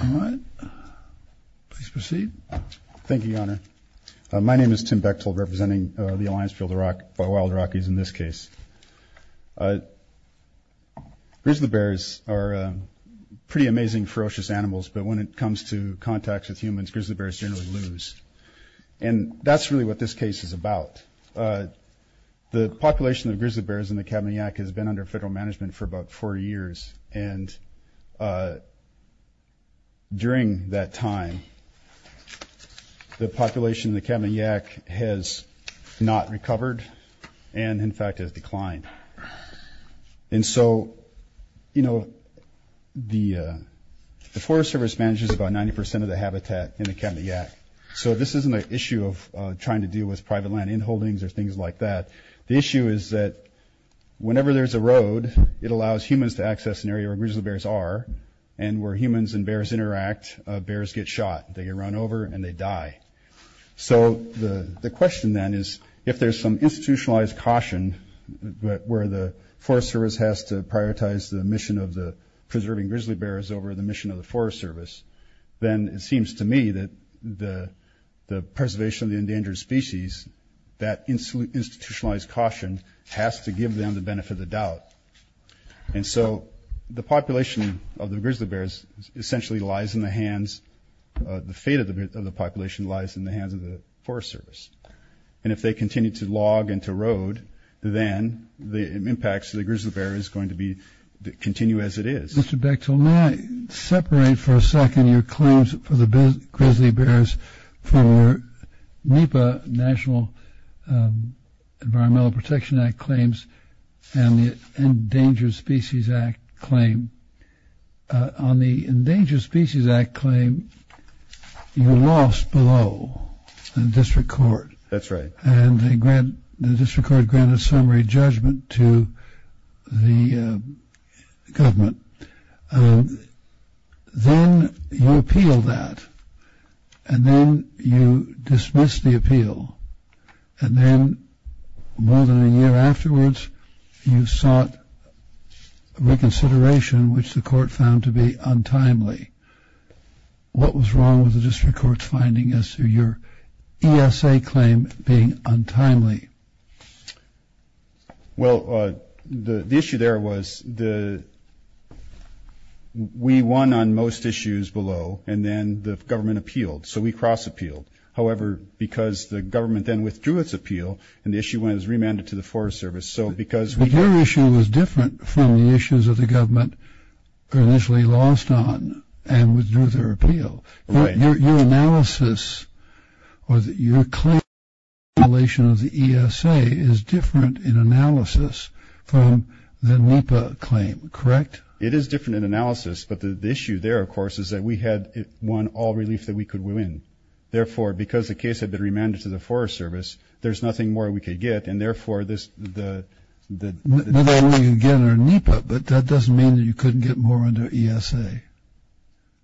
All right, please proceed. Thank you, Your Honor. My name is Tim Bechtel, representing the Alliance for the Wild Rockies in this case. Grizzly bears are pretty amazing, ferocious animals, but when it comes to contacts with humans, grizzly bears generally lose, and that's really what this case is about. The population of grizzly bears in the Kabanayak has been under federal management for about four years, and during that time the population in the Kabanayak has not recovered, and in fact has declined. And so, you know, the Forest Service manages about 90% of the habitat in the Kabanayak, so this isn't an issue of trying to deal with private land in holdings or things like that. The issue is that whenever there's a road, it allows humans to access an area where grizzly bears are, and where humans and bears interact, bears get shot, they get run over, and they die. So the question then is, if there's some institutionalized caution where the Forest Service has to prioritize the mission of the preserving grizzly bears over the mission of the Forest Service, then it seems to me that the preservation of the endangered species, that institutionalized caution, has to give them the benefit of the doubt. And so the population of the grizzly bears essentially lies in the hands, the fate of the population lies in the hands of the Forest Service. And if they continue to log and to road, then the impacts to the grizzly bear is going to be, continue as it is. Mr. Bechtel, may I separate for a second your claims for the grizzly bears for NEPA, National Environmental Protection Act claims, and the Endangered Species Act claim. On the Endangered Species Act claim, you lost below the district court. That's right. And the district court granted summary judgment to the government. Then you appealed that. And then you dismissed the appeal. And then, more than a year afterwards, you sought reconsideration, which the court found to be untimely. What was wrong with the district court's finding as to your ESA claim being untimely? Well, the issue there was we won on most issues below, and then the government appealed. So we cross-appealed. However, because the government then withdrew its appeal, and the issue was remanded to the Forest Service. But your issue was different from the issues that the government initially lost on and withdrew their appeal. Right. Your analysis or your claim in relation to the ESA is different in analysis from the NEPA claim. Correct? It is different in analysis. But the issue there, of course, is that we had won all relief that we could win. Therefore, because the case had been remanded to the Forest Service, there's nothing more we could get. And, therefore, this – Whether you win again or NEPA, but that doesn't mean that you couldn't get more under ESA.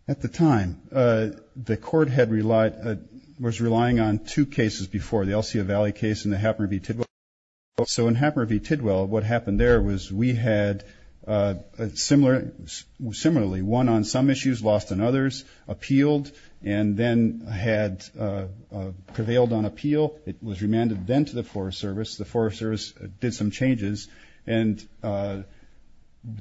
At the time, the court had relied – was relying on two cases before, the Elsia Valley case and the Happner v. Tidwell case. So in Happner v. Tidwell, what happened there was we had similarly won on some issues, lost on others, appealed, and then had prevailed on appeal. It was remanded then to the Forest Service. The Forest Service did some changes. And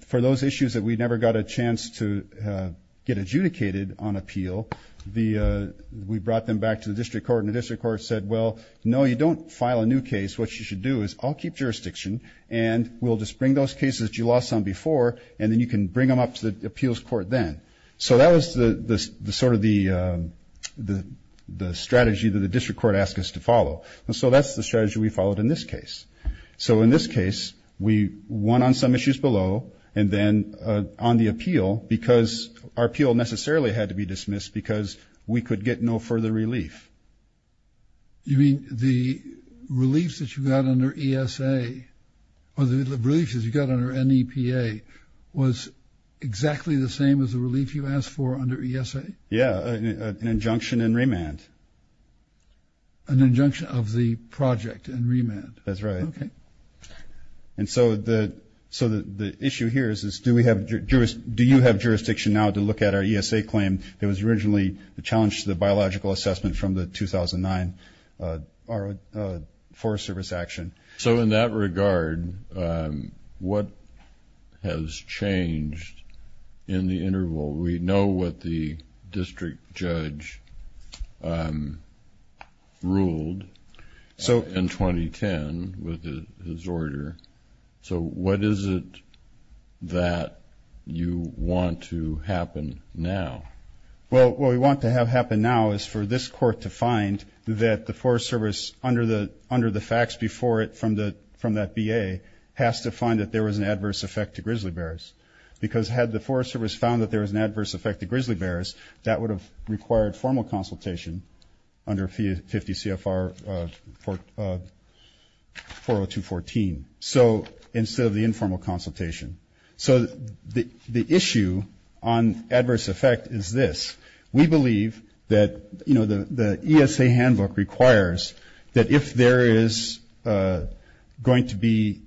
for those issues that we never got a chance to get adjudicated on appeal, we brought them back to the district court. And the district court said, well, no, you don't file a new case. What you should do is I'll keep jurisdiction, and we'll just bring those cases that you lost on before, and then you can bring them up to the appeals court then. So that was the sort of the strategy that the district court asked us to follow. And so that's the strategy we followed in this case. So in this case, we won on some issues below and then on the appeal because our appeal necessarily had to be dismissed because we could get no further relief. You mean the relief that you got under ESA or the relief that you got under NEPA was exactly the same as the relief you asked for under ESA? Yeah, an injunction in remand. An injunction of the project in remand? That's right. Okay. And so the issue here is do you have jurisdiction now to look at our ESA claim that was originally challenged to the biological assessment from the 2009 Forest Service action? So in that regard, what has changed in the interval? We know what the district judge ruled in 2010 with his order. So what is it that you want to happen now? Well, what we want to have happen now is for this court to find that the Forest Service, under the facts before it from that BA, has to find that there was an adverse effect to grizzly bears because had the Forest Service found that there was an adverse effect to grizzly bears, that would have required formal consultation under 50 CFR 40214 instead of the informal consultation. So the issue on adverse effect is this. We believe that the ESA handbook requires that if there is going to be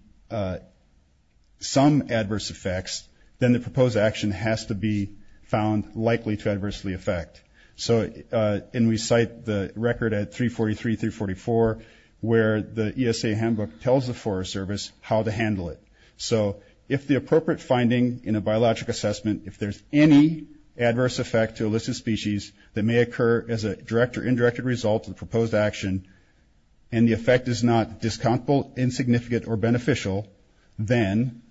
some adverse effects, then the proposed action has to be found likely to adversely affect. And we cite the record at 343-344 where the ESA handbook tells the Forest Service how to handle it. So if the appropriate finding in a biologic assessment, if there's any adverse effect to illicit species that may occur as a direct or indirect result of the proposed action and the effect is not discomfortable, insignificant, or beneficial, then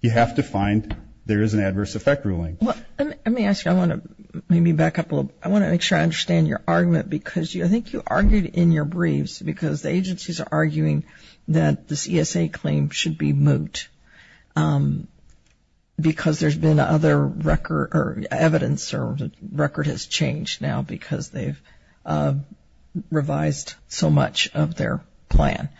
you have to find there is an adverse effect ruling. Let me ask you, I want to maybe back up a little. I want to make sure I understand your argument because I think you argued in your briefs because the agencies are arguing that this ESA claim should be moot because there's been other record or evidence or record has changed now because they've revised so much of their plan.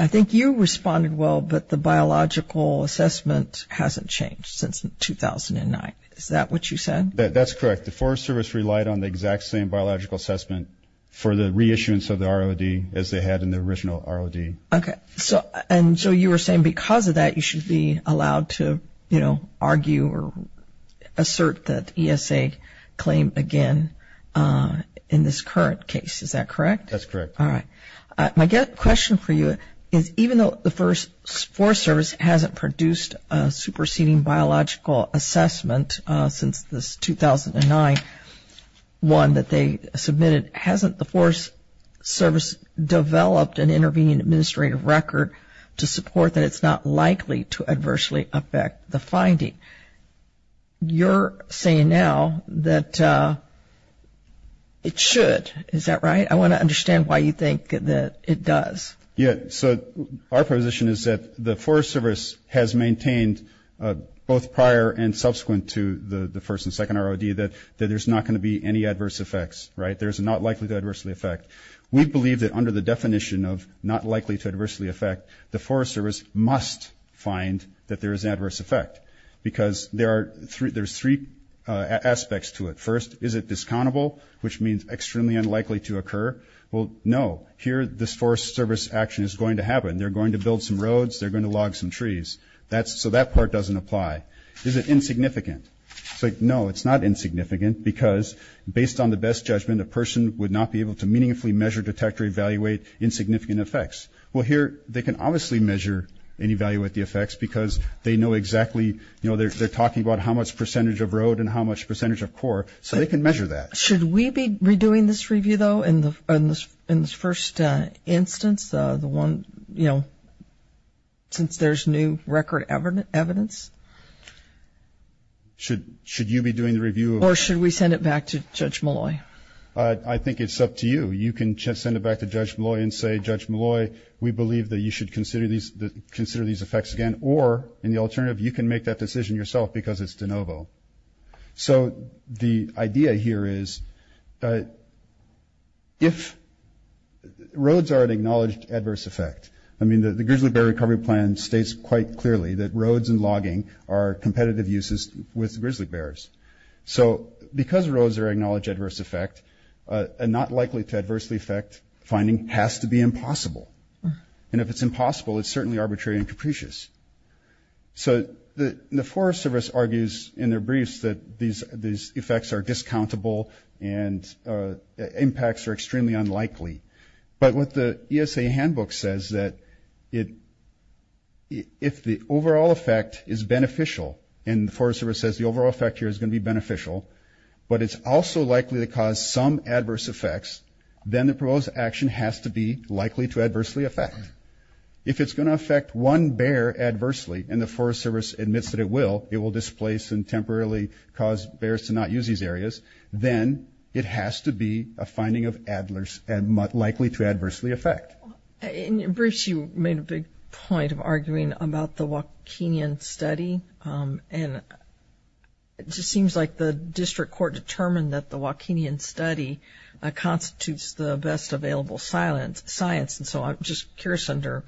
I think you responded well, but the biological assessment hasn't changed since 2009. Is that what you said? That's correct. The Forest Service relied on the exact same biological assessment for the reissuance of the ROD as they had in the original ROD. Okay. And so you were saying because of that you should be allowed to, you know, argue or assert that ESA claim again in this current case. Is that correct? That's correct. All right. My question for you is even though the Forest Service hasn't produced a superseding biological assessment since this 2009 one that they submitted, hasn't the Forest Service developed an intervening administrative record to support that it's not likely to adversely affect the finding? You're saying now that it should. Is that right? I want to understand why you think that it does. Yeah, so our position is that the Forest Service has maintained both prior and subsequent to the first and second ROD that there's not going to be any adverse effects, right? There's not likely to adversely affect. We believe that under the definition of not likely to adversely affect, the Forest Service must find that there is adverse effect because there's three aspects to it. First, is it discountable, which means extremely unlikely to occur? Well, no. Here this Forest Service action is going to happen. They're going to build some roads. They're going to log some trees. So that part doesn't apply. Is it insignificant? It's like, no, it's not insignificant because based on the best judgment, a person would not be able to meaningfully measure, detect, or evaluate insignificant effects. Well, here they can obviously measure and evaluate the effects because they know exactly, you know, they're talking about how much percentage of road and how much percentage of core, so they can measure that. Should we be redoing this review, though, in this first instance, the one, you know, since there's new record evidence? Should you be doing the review? Or should we send it back to Judge Molloy? I think it's up to you. You can send it back to Judge Molloy and say, Judge Molloy, we believe that you should consider these effects again. Or in the alternative, you can make that decision yourself because it's de novo. The grizzly bear recovery plan states quite clearly that roads and logging are competitive uses with grizzly bears. So because roads are acknowledged adverse effect and not likely to adversely affect, finding has to be impossible. And if it's impossible, it's certainly arbitrary and capricious. So the Forest Service argues in their briefs that these effects are discountable and impacts are extremely unlikely. But what the ESA handbook says that if the overall effect is beneficial and the Forest Service says the overall effect here is going to be beneficial, but it's also likely to cause some adverse effects, then the proposed action has to be likely to adversely affect. If it's going to affect one bear adversely and the Forest Service admits that it will, it will displace and temporarily cause bears to not use these areas, then it has to be a finding likely to adversely affect. In your briefs, you made a big point of arguing about the Waukenian study. And it just seems like the district court determined that the Waukenian study constitutes the best available science, and so I'm just curious under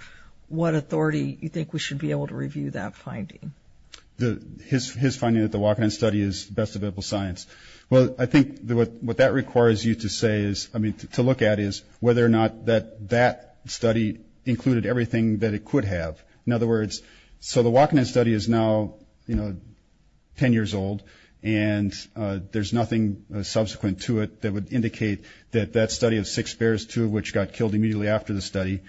what authority you think we should be able to review that finding. His finding that the Waukenian study is the best available science. Well, I think what that requires you to look at is whether or not that that study included everything that it could have. In other words, so the Waukenian study is now 10 years old, and there's nothing subsequent to it that would indicate that that study of six bears, two of which got killed immediately after the study,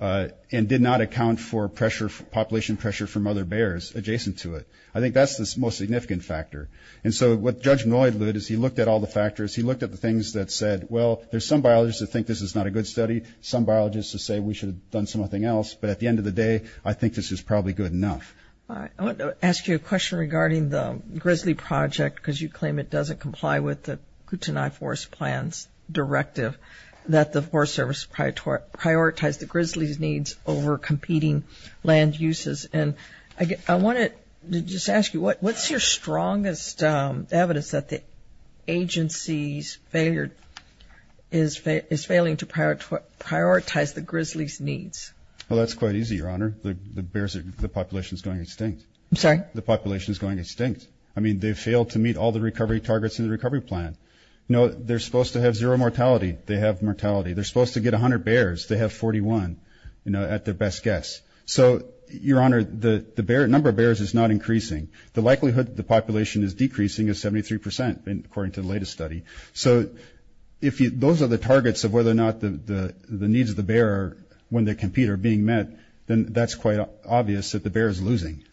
and did not account for population pressure from other bears adjacent to it. I think that's the most significant factor. And so what Judge Noydlood, as he looked at all the factors, he looked at the things that said, well, there's some biologists that think this is not a good study, some biologists that say we should have done something else, but at the end of the day, I think this is probably good enough. I want to ask you a question regarding the Grizzly Project, because you claim it doesn't comply with the Kootenai Forest Plans directive that the Forest Service prioritized the grizzlies' needs over competing land uses. And I want to just ask you, what's your strongest evidence that the agency's failure is failing to prioritize the grizzlies' needs? Well, that's quite easy, Your Honor. The population is going extinct. I'm sorry? The population is going extinct. I mean, they failed to meet all the recovery targets in the recovery plan. You know, they're supposed to have zero mortality. They have mortality. They're supposed to get 100 bears. They have 41, you know, at their best guess. So, Your Honor, the number of bears is not increasing. The likelihood that the population is decreasing is 73%, according to the latest study. So if those are the targets of whether or not the needs of the bear when they compete are being met, then that's quite obvious that the bear is losing.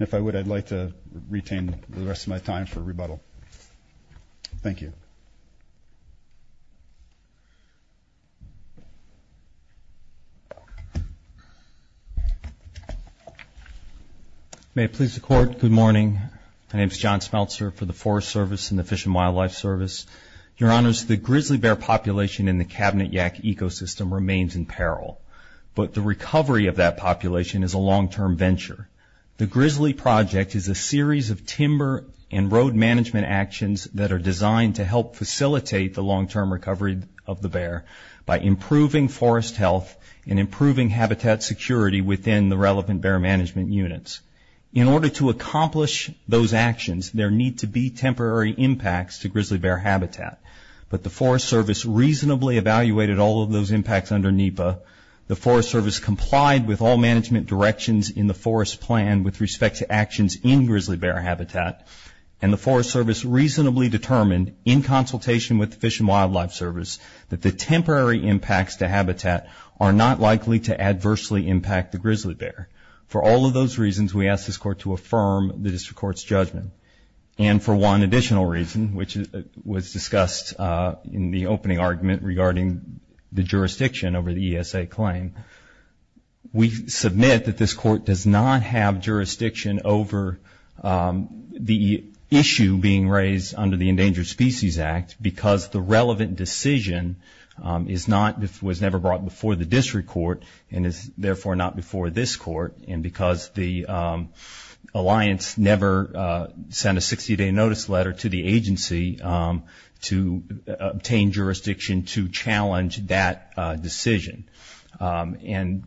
If I would, I'd like to retain the rest of my time for rebuttal. Thank you. May it please the Court, good morning. My name is John Smeltzer for the Forest Service and the Fish and Wildlife Service. Your Honors, the grizzly bear population in the Cabinet Yak ecosystem remains in peril, but the recovery of that population is a long-term venture. The Grizzly Project is a series of timber and road management actions that are designed to help facilitate the long-term recovery of the bear by improving forest health and improving habitat security within the relevant bear management units. In order to accomplish those actions, there need to be temporary impacts to grizzly bear habitat, but the Forest Service reasonably evaluated all of those impacts under NEPA. The Forest Service complied with all management directions in the forest plan with respect to actions in grizzly bear habitat, and the Forest Service reasonably determined in consultation with the Fish and Wildlife Service that the temporary impacts to habitat are not likely to adversely impact the grizzly bear. For all of those reasons, we ask this Court to affirm the District Court's judgment. And for one additional reason, which was discussed in the opening argument regarding the jurisdiction over the ESA claim, we submit that this Court does not have jurisdiction over the issue being raised under the Endangered Species Act because the relevant decision was never brought before the District Court and is therefore not before this Court, and because the Alliance never sent a 60-day notice letter to the agency to obtain jurisdiction to challenge that decision. And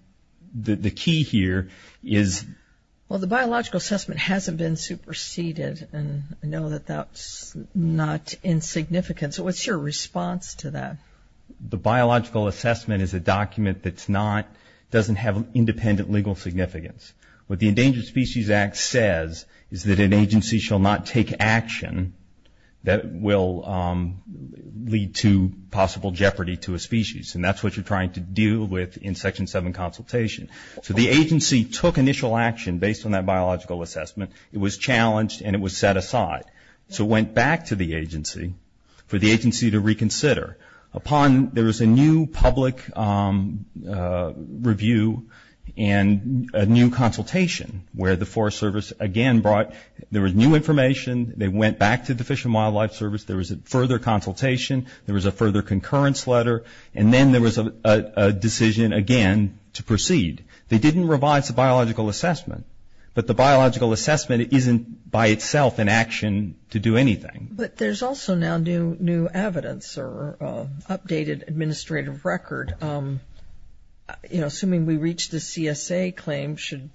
the key here is... Well, the biological assessment hasn't been superseded, and I know that that's not insignificant. So what's your response to that? The biological assessment is a document that doesn't have independent legal significance. What the Endangered Species Act says is that an agency shall not take action that will lead to possible jeopardy to a species, and that's what you're trying to deal with in Section 7 consultation. So the agency took initial action based on that biological assessment. It was challenged, and it was set aside. So it went back to the agency for the agency to reconsider. There was a new public review and a new consultation where the Forest Service again brought... There was new information. They went back to the Fish and Wildlife Service. There was a further consultation. There was a further concurrence letter, and then there was a decision again to proceed. They didn't revise the biological assessment, but the biological assessment isn't by itself an action to do anything. But there's also now new evidence or updated administrative record. Assuming we reach the CSA claim, should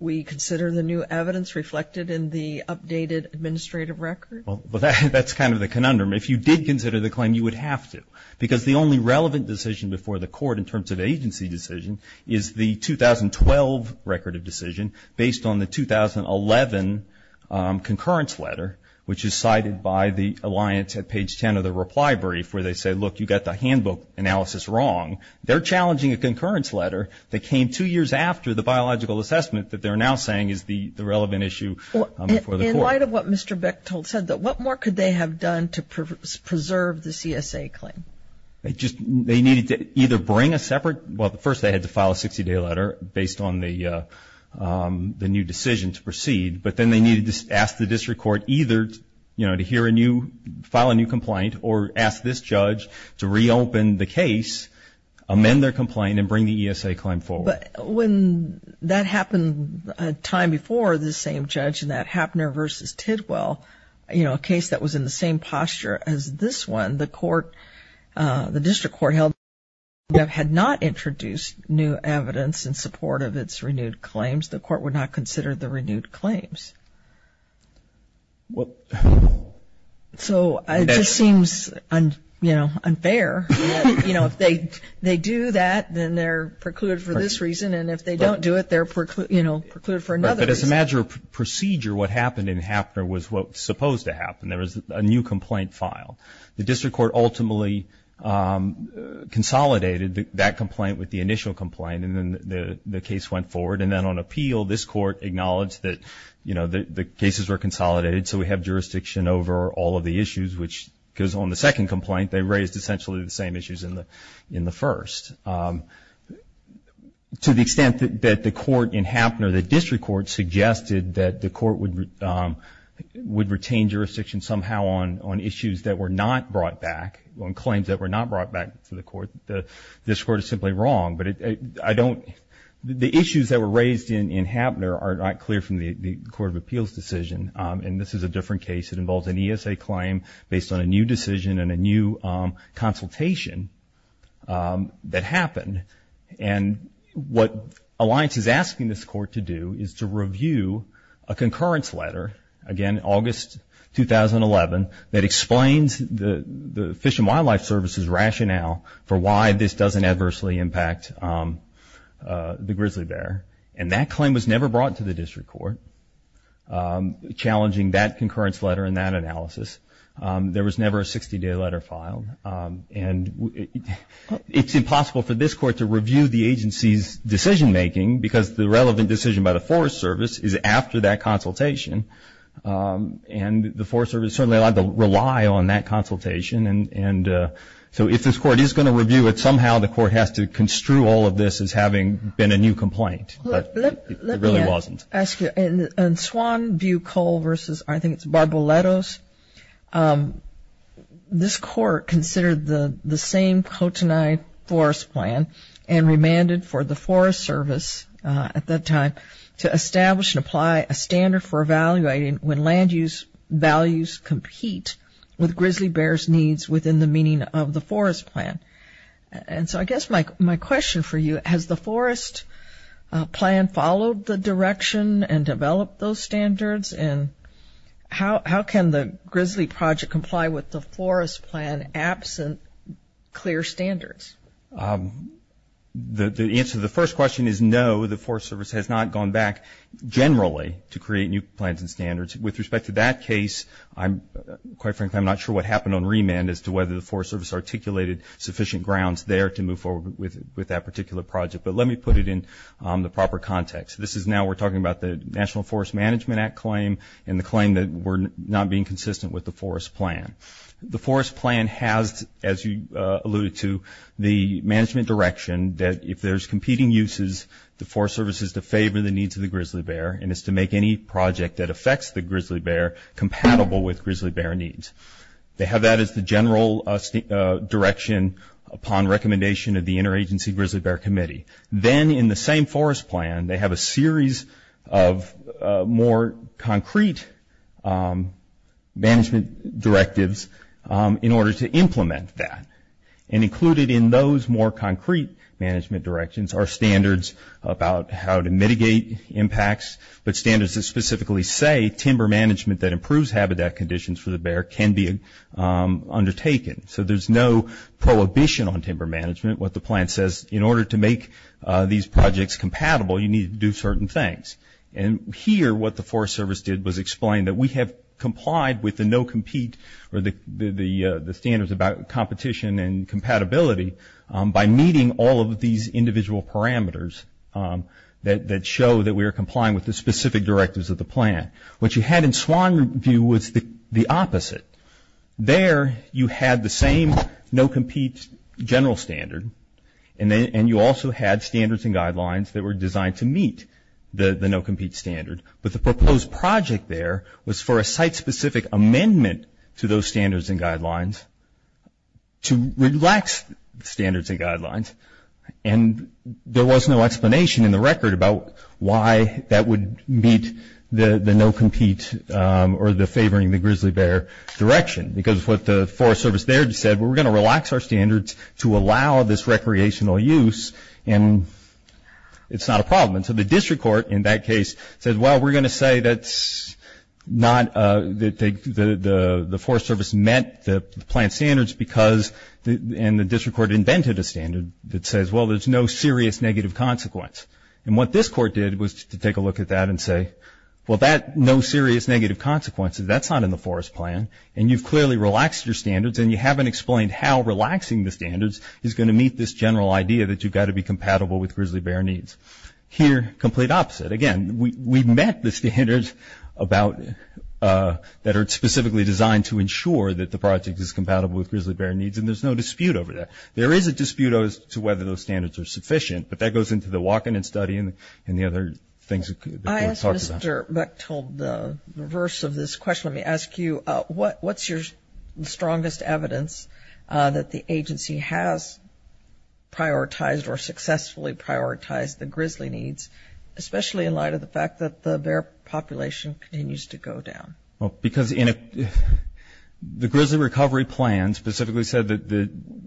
we consider the new evidence reflected in the updated administrative record? Well, that's kind of the conundrum. If you did consider the claim, you would have to, because the only relevant decision before the court in terms of agency decision is the 2012 record of decision based on the 2011 concurrence letter, which is cited by the alliance at page 10 of the reply brief where they say, look, you got the handbook analysis wrong. They're challenging a concurrence letter that came two years after the biological assessment that they're now saying is the relevant issue before the court. In light of what Mr. Bechtold said, what more could they have done to preserve the CSA claim? They needed to either bring a separate... Well, first they had to file a 60-day letter based on the new decision to proceed, but then they needed to ask the district court either to hear a new, file a new complaint or ask this judge to reopen the case, amend their complaint, and bring the ESA claim forward. But when that happened a time before this same judge in that Happner v. Tidwell, a case that was in the same posture as this one, the court, the district court held, had not introduced new evidence in support of its renewed claims. The court would not consider the renewed claims. So it just seems, you know, unfair. You know, if they do that, then they're precluded for this reason, and if they don't do it, they're precluded for another reason. But as a matter of procedure, what happened in Happner was what was supposed to happen. There was a new complaint filed. The district court ultimately consolidated that complaint with the initial complaint, and then the case went forward. And then on appeal, this court acknowledged that, you know, the cases were consolidated, so we have jurisdiction over all of the issues, which, because on the second complaint, they raised essentially the same issues in the first. To the extent that the court in Happner, the district court, suggested that the court would retain jurisdiction somehow on issues that were not brought back, on claims that were not brought back to the court, this court is simply wrong. But the issues that were raised in Happner are not clear from the Court of Appeals decision, and this is a different case. It involves an ESA claim based on a new decision and a new consultation that happened. And what Alliance is asking this court to do is to review a concurrence letter, again, August 2011, that explains the Fish and Wildlife Service's rationale for why this doesn't adversely impact the grizzly bear. And that claim was never brought to the district court, challenging that concurrence letter and that analysis. There was never a 60-day letter filed. And it's impossible for this court to review the agency's decision-making, because the relevant decision by the Forest Service is after that consultation, and the Forest Service is certainly allowed to rely on that consultation. And so if this court is going to review it, somehow the court has to construe all of this as having been a new complaint. But it really wasn't. Let me ask you, in Swanview-Cole versus, I think it's Barboletos, this court considered the same Kootenai Forest Plan and remanded for the Forest Service at that time to establish and apply a standard for evaluating when land use values compete with grizzly bears' needs within the meaning of the Forest Plan. And so I guess my question for you, has the Forest Plan followed the direction and developed those standards? And how can the grizzly project comply with the Forest Plan absent clear standards? The answer to the first question is no, the Forest Service has not gone back generally to create new plans and standards. With respect to that case, quite frankly, I'm not sure what happened on remand as to whether the Forest Service articulated sufficient grounds there to move forward with that particular project. But let me put it in the proper context. This is now we're talking about the National Forest Management Act claim and the claim that we're not being consistent with the Forest Plan. The Forest Plan has, as you alluded to, the management direction that if there's competing uses, the Forest Service is to favor the needs of the grizzly bear and is to make any project that affects the grizzly bear compatible with grizzly bear needs. They have that as the general direction upon recommendation of the Interagency Grizzly Bear Committee. Then in the same Forest Plan they have a series of more concrete management directives in order to implement that. And included in those more concrete management directions are standards about how to mitigate impacts, but standards that specifically say timber management that improves habitat conditions for the bear can be undertaken. So there's no prohibition on timber management. What the plan says in order to make these projects compatible you need to do certain things. And here what the Forest Service did was explain that we have complied with the no compete or the standards about competition and compatibility by meeting all of these individual parameters that show that we are complying with the specific directives of the plan. What you had in Swanview was the opposite. There you had the same no compete general standard and you also had standards and guidelines that were designed to meet the no compete standard. But the proposed project there was for a site specific amendment to those standards and guidelines to relax standards and guidelines. And there was no explanation in the record about why that would meet the no compete or the favoring the grizzly bear direction. Because what the Forest Service there said, we're going to relax our standards to allow this recreational use and it's not a problem. And so the district court in that case said, well we're going to say that the Forest Service met the plan standards and the district court invented a standard that says, well there's no serious negative consequence. And what this court did was to take a look at that and say, well that no serious negative consequence, that's not in the forest plan. And you've clearly relaxed your standards and you haven't explained how relaxing the standards is going to meet this general idea that you've got to be compatible with grizzly bear needs. Here, complete opposite. Again, we met the standards that are specifically designed to ensure that the project is compatible with grizzly bear needs and there's no dispute over that. There is a dispute as to whether those standards are sufficient, but that goes into the walk-in and study and the other things that we've talked about. I asked Mr. Bechtold the reverse of this question. Let me ask you, what's your strongest evidence that the agency has prioritized or successfully prioritized the grizzly needs, especially in light of the fact that the bear population continues to go down? Because the grizzly recovery plan specifically said that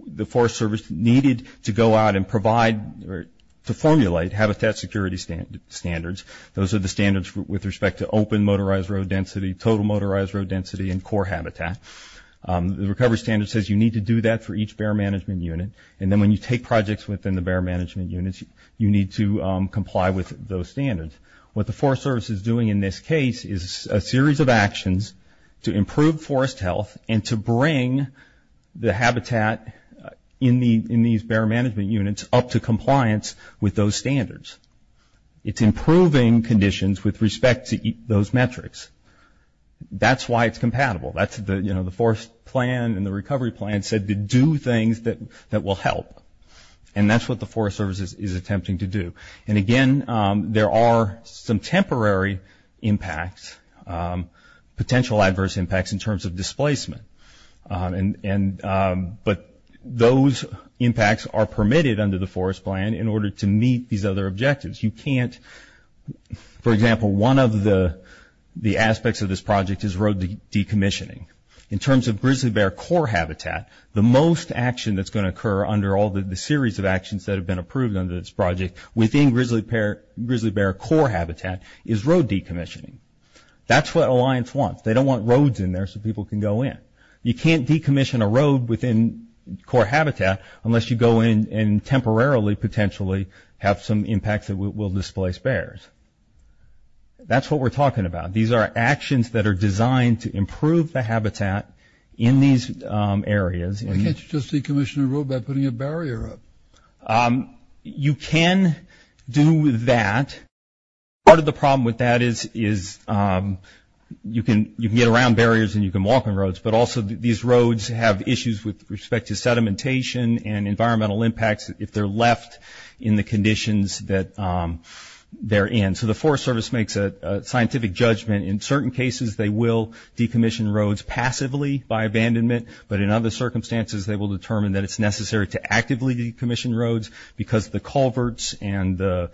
the Forest Service needed to go out and provide or to formulate habitat security standards. Those are the standards with respect to open motorized road density, total motorized road density and core habitat. The recovery standard says you need to do that for each bear management unit. And then when you take projects within the bear management units, you need to comply with those standards. What the Forest Service is doing in this case is a series of actions to improve forest health and to bring the habitat in these bear management units up to compliance with those standards. It's improving conditions with respect to those metrics. That's why it's compatible. The forest plan and the recovery plan said to do things that will help, and that's what the Forest Service is attempting to do. Again, there are some temporary impacts, potential adverse impacts in terms of displacement. But those impacts are permitted under the forest plan in order to meet these other objectives. For example, one of the aspects of this project is road decommissioning. In terms of grizzly bear core habitat, the most action that's going to occur under all the series of actions that have been approved under this project within grizzly bear core habitat is road decommissioning. That's what Alliance wants. They don't want roads in there so people can go in. You can't decommission a road within core habitat unless you go in and temporarily potentially have some impacts that will displace bears. That's what we're talking about. These are actions that are designed to improve the habitat in these areas. Why can't you just decommission a road by putting a barrier up? You can do that. Part of the problem with that is you can get around barriers and you can walk on roads, but also these roads have issues with respect to sedimentation and environmental impacts if they're left in the conditions that they're in. So the Forest Service makes a scientific judgment. In certain cases they will decommission roads passively by abandonment, but in other circumstances they will determine that it's necessary to actively decommission roads because the culverts and the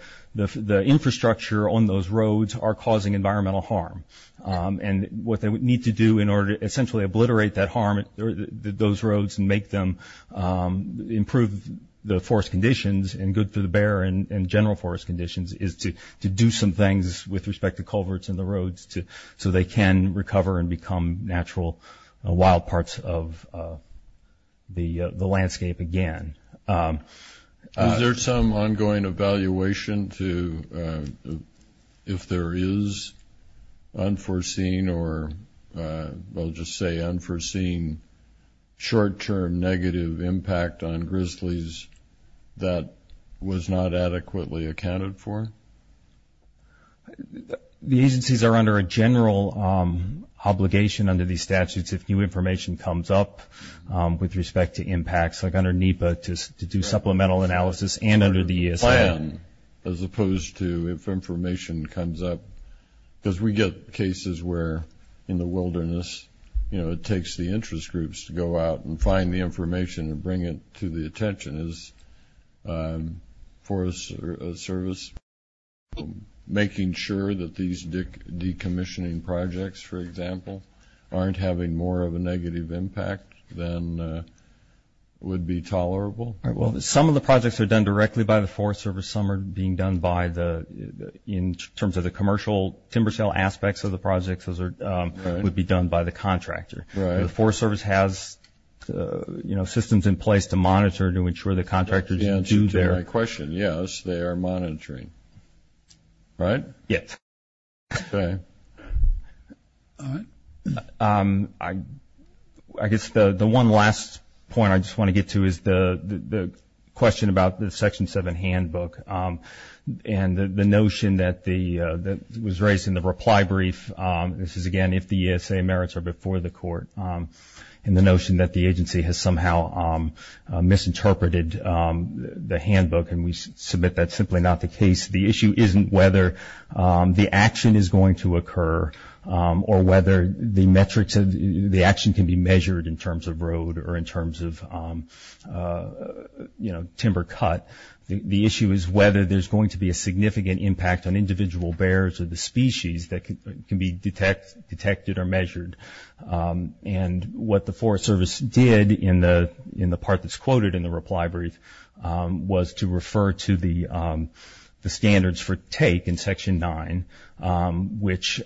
infrastructure on those roads are causing environmental harm. And what they need to do in order to essentially obliterate that harm, those roads, and make them improve the forest conditions and good for the bear and general forest conditions is to do some things with respect to culverts in the roads so they can recover and become natural wild parts of the landscape again. Is there some ongoing evaluation if there is unforeseen or I'll just say unforeseen short-term negative impact on grizzlies that was not adequately accounted for? The agencies are under a general obligation under these statutes if new information comes up with respect to impacts, like under NEPA to do supplemental analysis and under the ESR. As opposed to if information comes up, because we get cases where in the wilderness, you know, it takes the interest groups to go out and find the information and bring it to the attention is Forest Service making sure that these decommissioning projects, for example, aren't having more of a negative impact than would be tolerable? Well, some of the projects are done directly by the Forest Service. Some are being done in terms of the commercial timber sale aspects of the projects would be done by the contractor. Right. The Forest Service has, you know, systems in place to monitor to ensure the contractors do their. That's the answer to my question. Yes, they are monitoring. Right? Yes. Okay. All right. I guess the one last point I just want to get to is the question about the Section 7 handbook and the notion that was raised in the reply brief. This is, again, if the ESA merits are before the court, and the notion that the agency has somehow misinterpreted the handbook, and we submit that's simply not the case. The issue isn't whether the action is going to occur or whether the action can be measured in terms of road or in terms of, you know, timber cut. The issue is whether there's going to be a significant impact on individual bears or the species that can be detected or measured. And what the Forest Service did in the part that's quoted in the reply brief was to refer to the standards for take in Section 9, which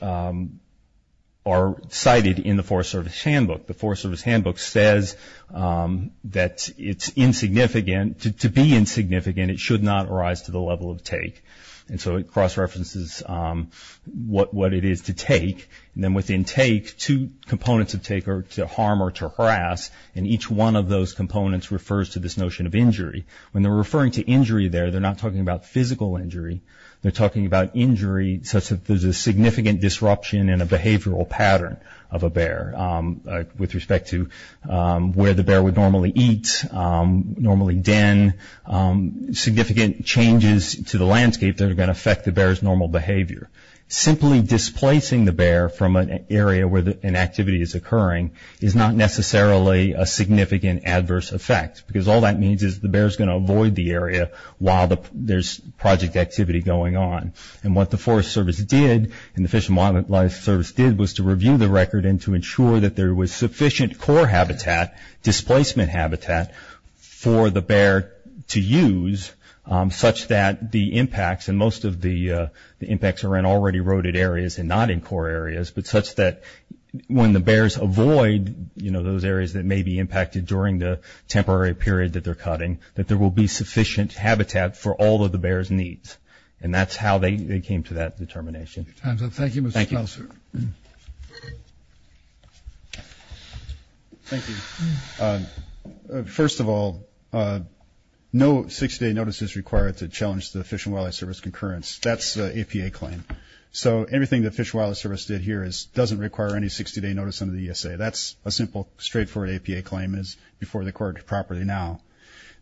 are cited in the Forest Service handbook. The Forest Service handbook says that it's insignificant. To be insignificant, it should not arise to the level of take. And so it cross-references what it is to take. And then within take, two components of take are to harm or to harass, and each one of those components refers to this notion of injury. When they're referring to injury there, they're not talking about physical injury. They're talking about injury such that there's a significant disruption in a behavioral pattern of a bear with respect to where the bear would normally eat, normally den, significant changes to the landscape that are going to affect the bear's normal behavior. Simply displacing the bear from an area where an activity is occurring is not necessarily a significant adverse effect, because all that means is the bear's going to avoid the area while there's project activity going on. And what the Forest Service did, and the Fish and Wildlife Service did, was to review the record and to ensure that there was sufficient core habitat, displacement habitat, for the bear to use such that the impacts, and most of the impacts are in already eroded areas and not in core areas, but such that when the bears avoid, you know, those areas that may be impacted during the temporary period that they're cutting, that there will be sufficient habitat for all of the bear's needs. And that's how they came to that determination. Time's up. Thank you, Mr. Klauser. Thank you. First of all, no 60-day notice is required to challenge the Fish and Wildlife Service concurrence. That's an APA claim. So everything the Fish and Wildlife Service did here doesn't require any 60-day notice under the ESA. That's a simple, straightforward APA claim, and it's before the court properly now.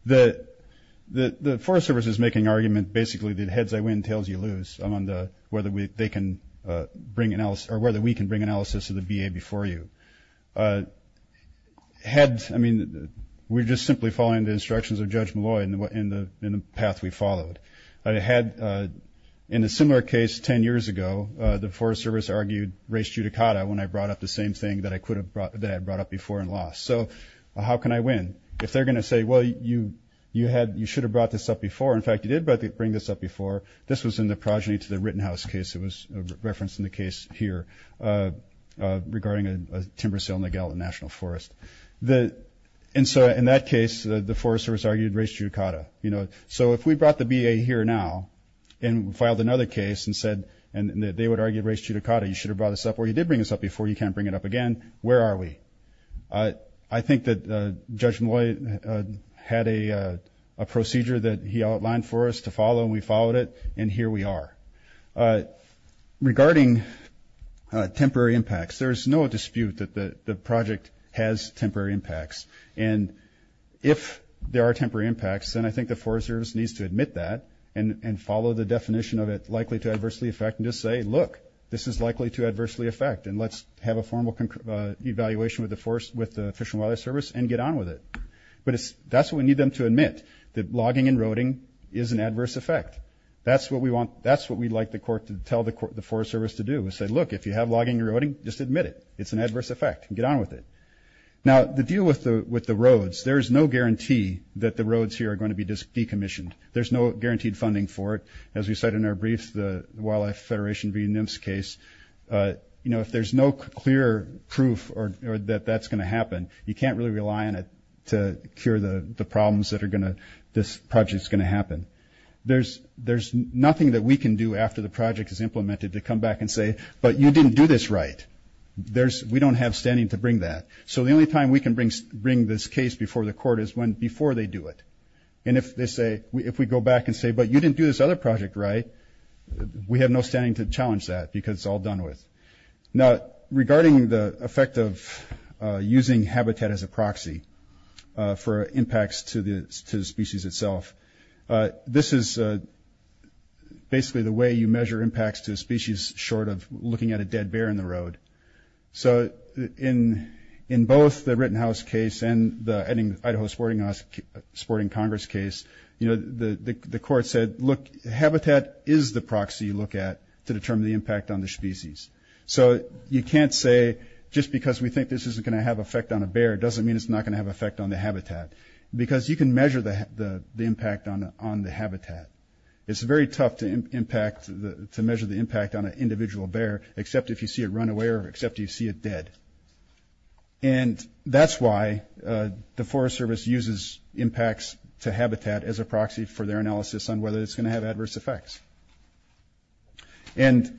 The Forest Service is making an argument basically that heads I win, tails you lose, on whether we can bring analysis to the BA before you. Heads, I mean, we're just simply following the instructions of Judge Malloy in the path we followed. In a similar case 10 years ago, the Forest Service argued res judicata when I brought up the same thing that I brought up before and lost. So how can I win? If they're going to say, well, you should have brought this up before. In fact, you did bring this up before. This was in the progeny to the Rittenhouse case. It was referenced in the case here regarding a timber sale in the Gallatin National Forest. And so in that case, the Forest Service argued res judicata. So if we brought the BA here now and filed another case and said they would argue res judicata, you should have brought this up, or you did bring this up before, you can't bring it up again, where are we? I think that Judge Malloy had a procedure that he outlined for us to follow, and we followed it, and here we are. Regarding temporary impacts, there's no dispute that the project has temporary impacts. And if there are temporary impacts, then I think the Forest Service needs to admit that and follow the definition of it likely to adversely affect and just say, look, this is likely to adversely affect, and let's have a formal evaluation with the Fish and Wildlife Service and get on with it. But that's what we need them to admit, that logging and roading is an adverse effect. That's what we'd like the court to tell the Forest Service to do is say, look, if you have logging and roading, just admit it. It's an adverse effect. Get on with it. Now, the deal with the roads, there is no guarantee that the roads here are going to be decommissioned. There's no guaranteed funding for it. As we said in our brief, the Wildlife Federation v. NIMFS case, you know, if there's no clear proof that that's going to happen, you can't really rely on it to cure the problems that are going to this project's going to happen. There's nothing that we can do after the project is implemented to come back and say, but you didn't do this right. We don't have standing to bring that. So the only time we can bring this case before the court is before they do it. And if they say, if we go back and say, but you didn't do this other project right, we have no standing to challenge that because it's all done with. Now, regarding the effect of using habitat as a proxy for impacts to the species itself, this is basically the way you measure impacts to a species short of looking at a dead bear in the road. So in both the Rittenhouse case and the Idaho Sporting Congress case, the court said, look, habitat is the proxy you look at to determine the impact on the species. So you can't say just because we think this isn't going to have an effect on a bear, doesn't mean it's not going to have an effect on the habitat, because you can measure the impact on the habitat. It's very tough to measure the impact on an individual bear, except if you see it run away or except you see it dead. And that's why the Forest Service uses impacts to habitat as a proxy for their analysis on whether it's going to have adverse effects. And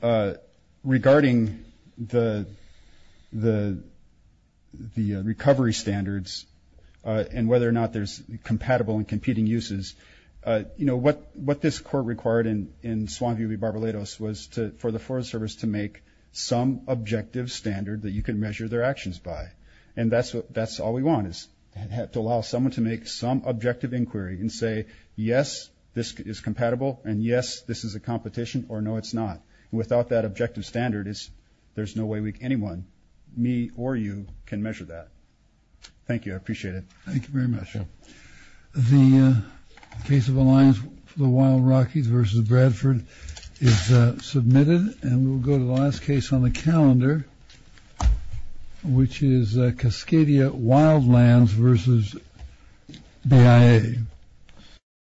regarding the recovery standards and whether or not there's compatible and competing uses, what this court required in Swan View v. Barbalatos was for the Forest Service to make some objective standard that you can measure their actions by. And that's all we want is to allow someone to make some objective inquiry and say, yes, this is compatible, and yes, this is a competition, or no, it's not. Without that objective standard, there's no way anyone, me or you, can measure that. Thank you. I appreciate it. Thank you very much. The case of Alliance for the Wild Rockies v. Bradford is submitted, and we'll go to the last case on the calendar, which is Cascadia Wildlands v. BIA.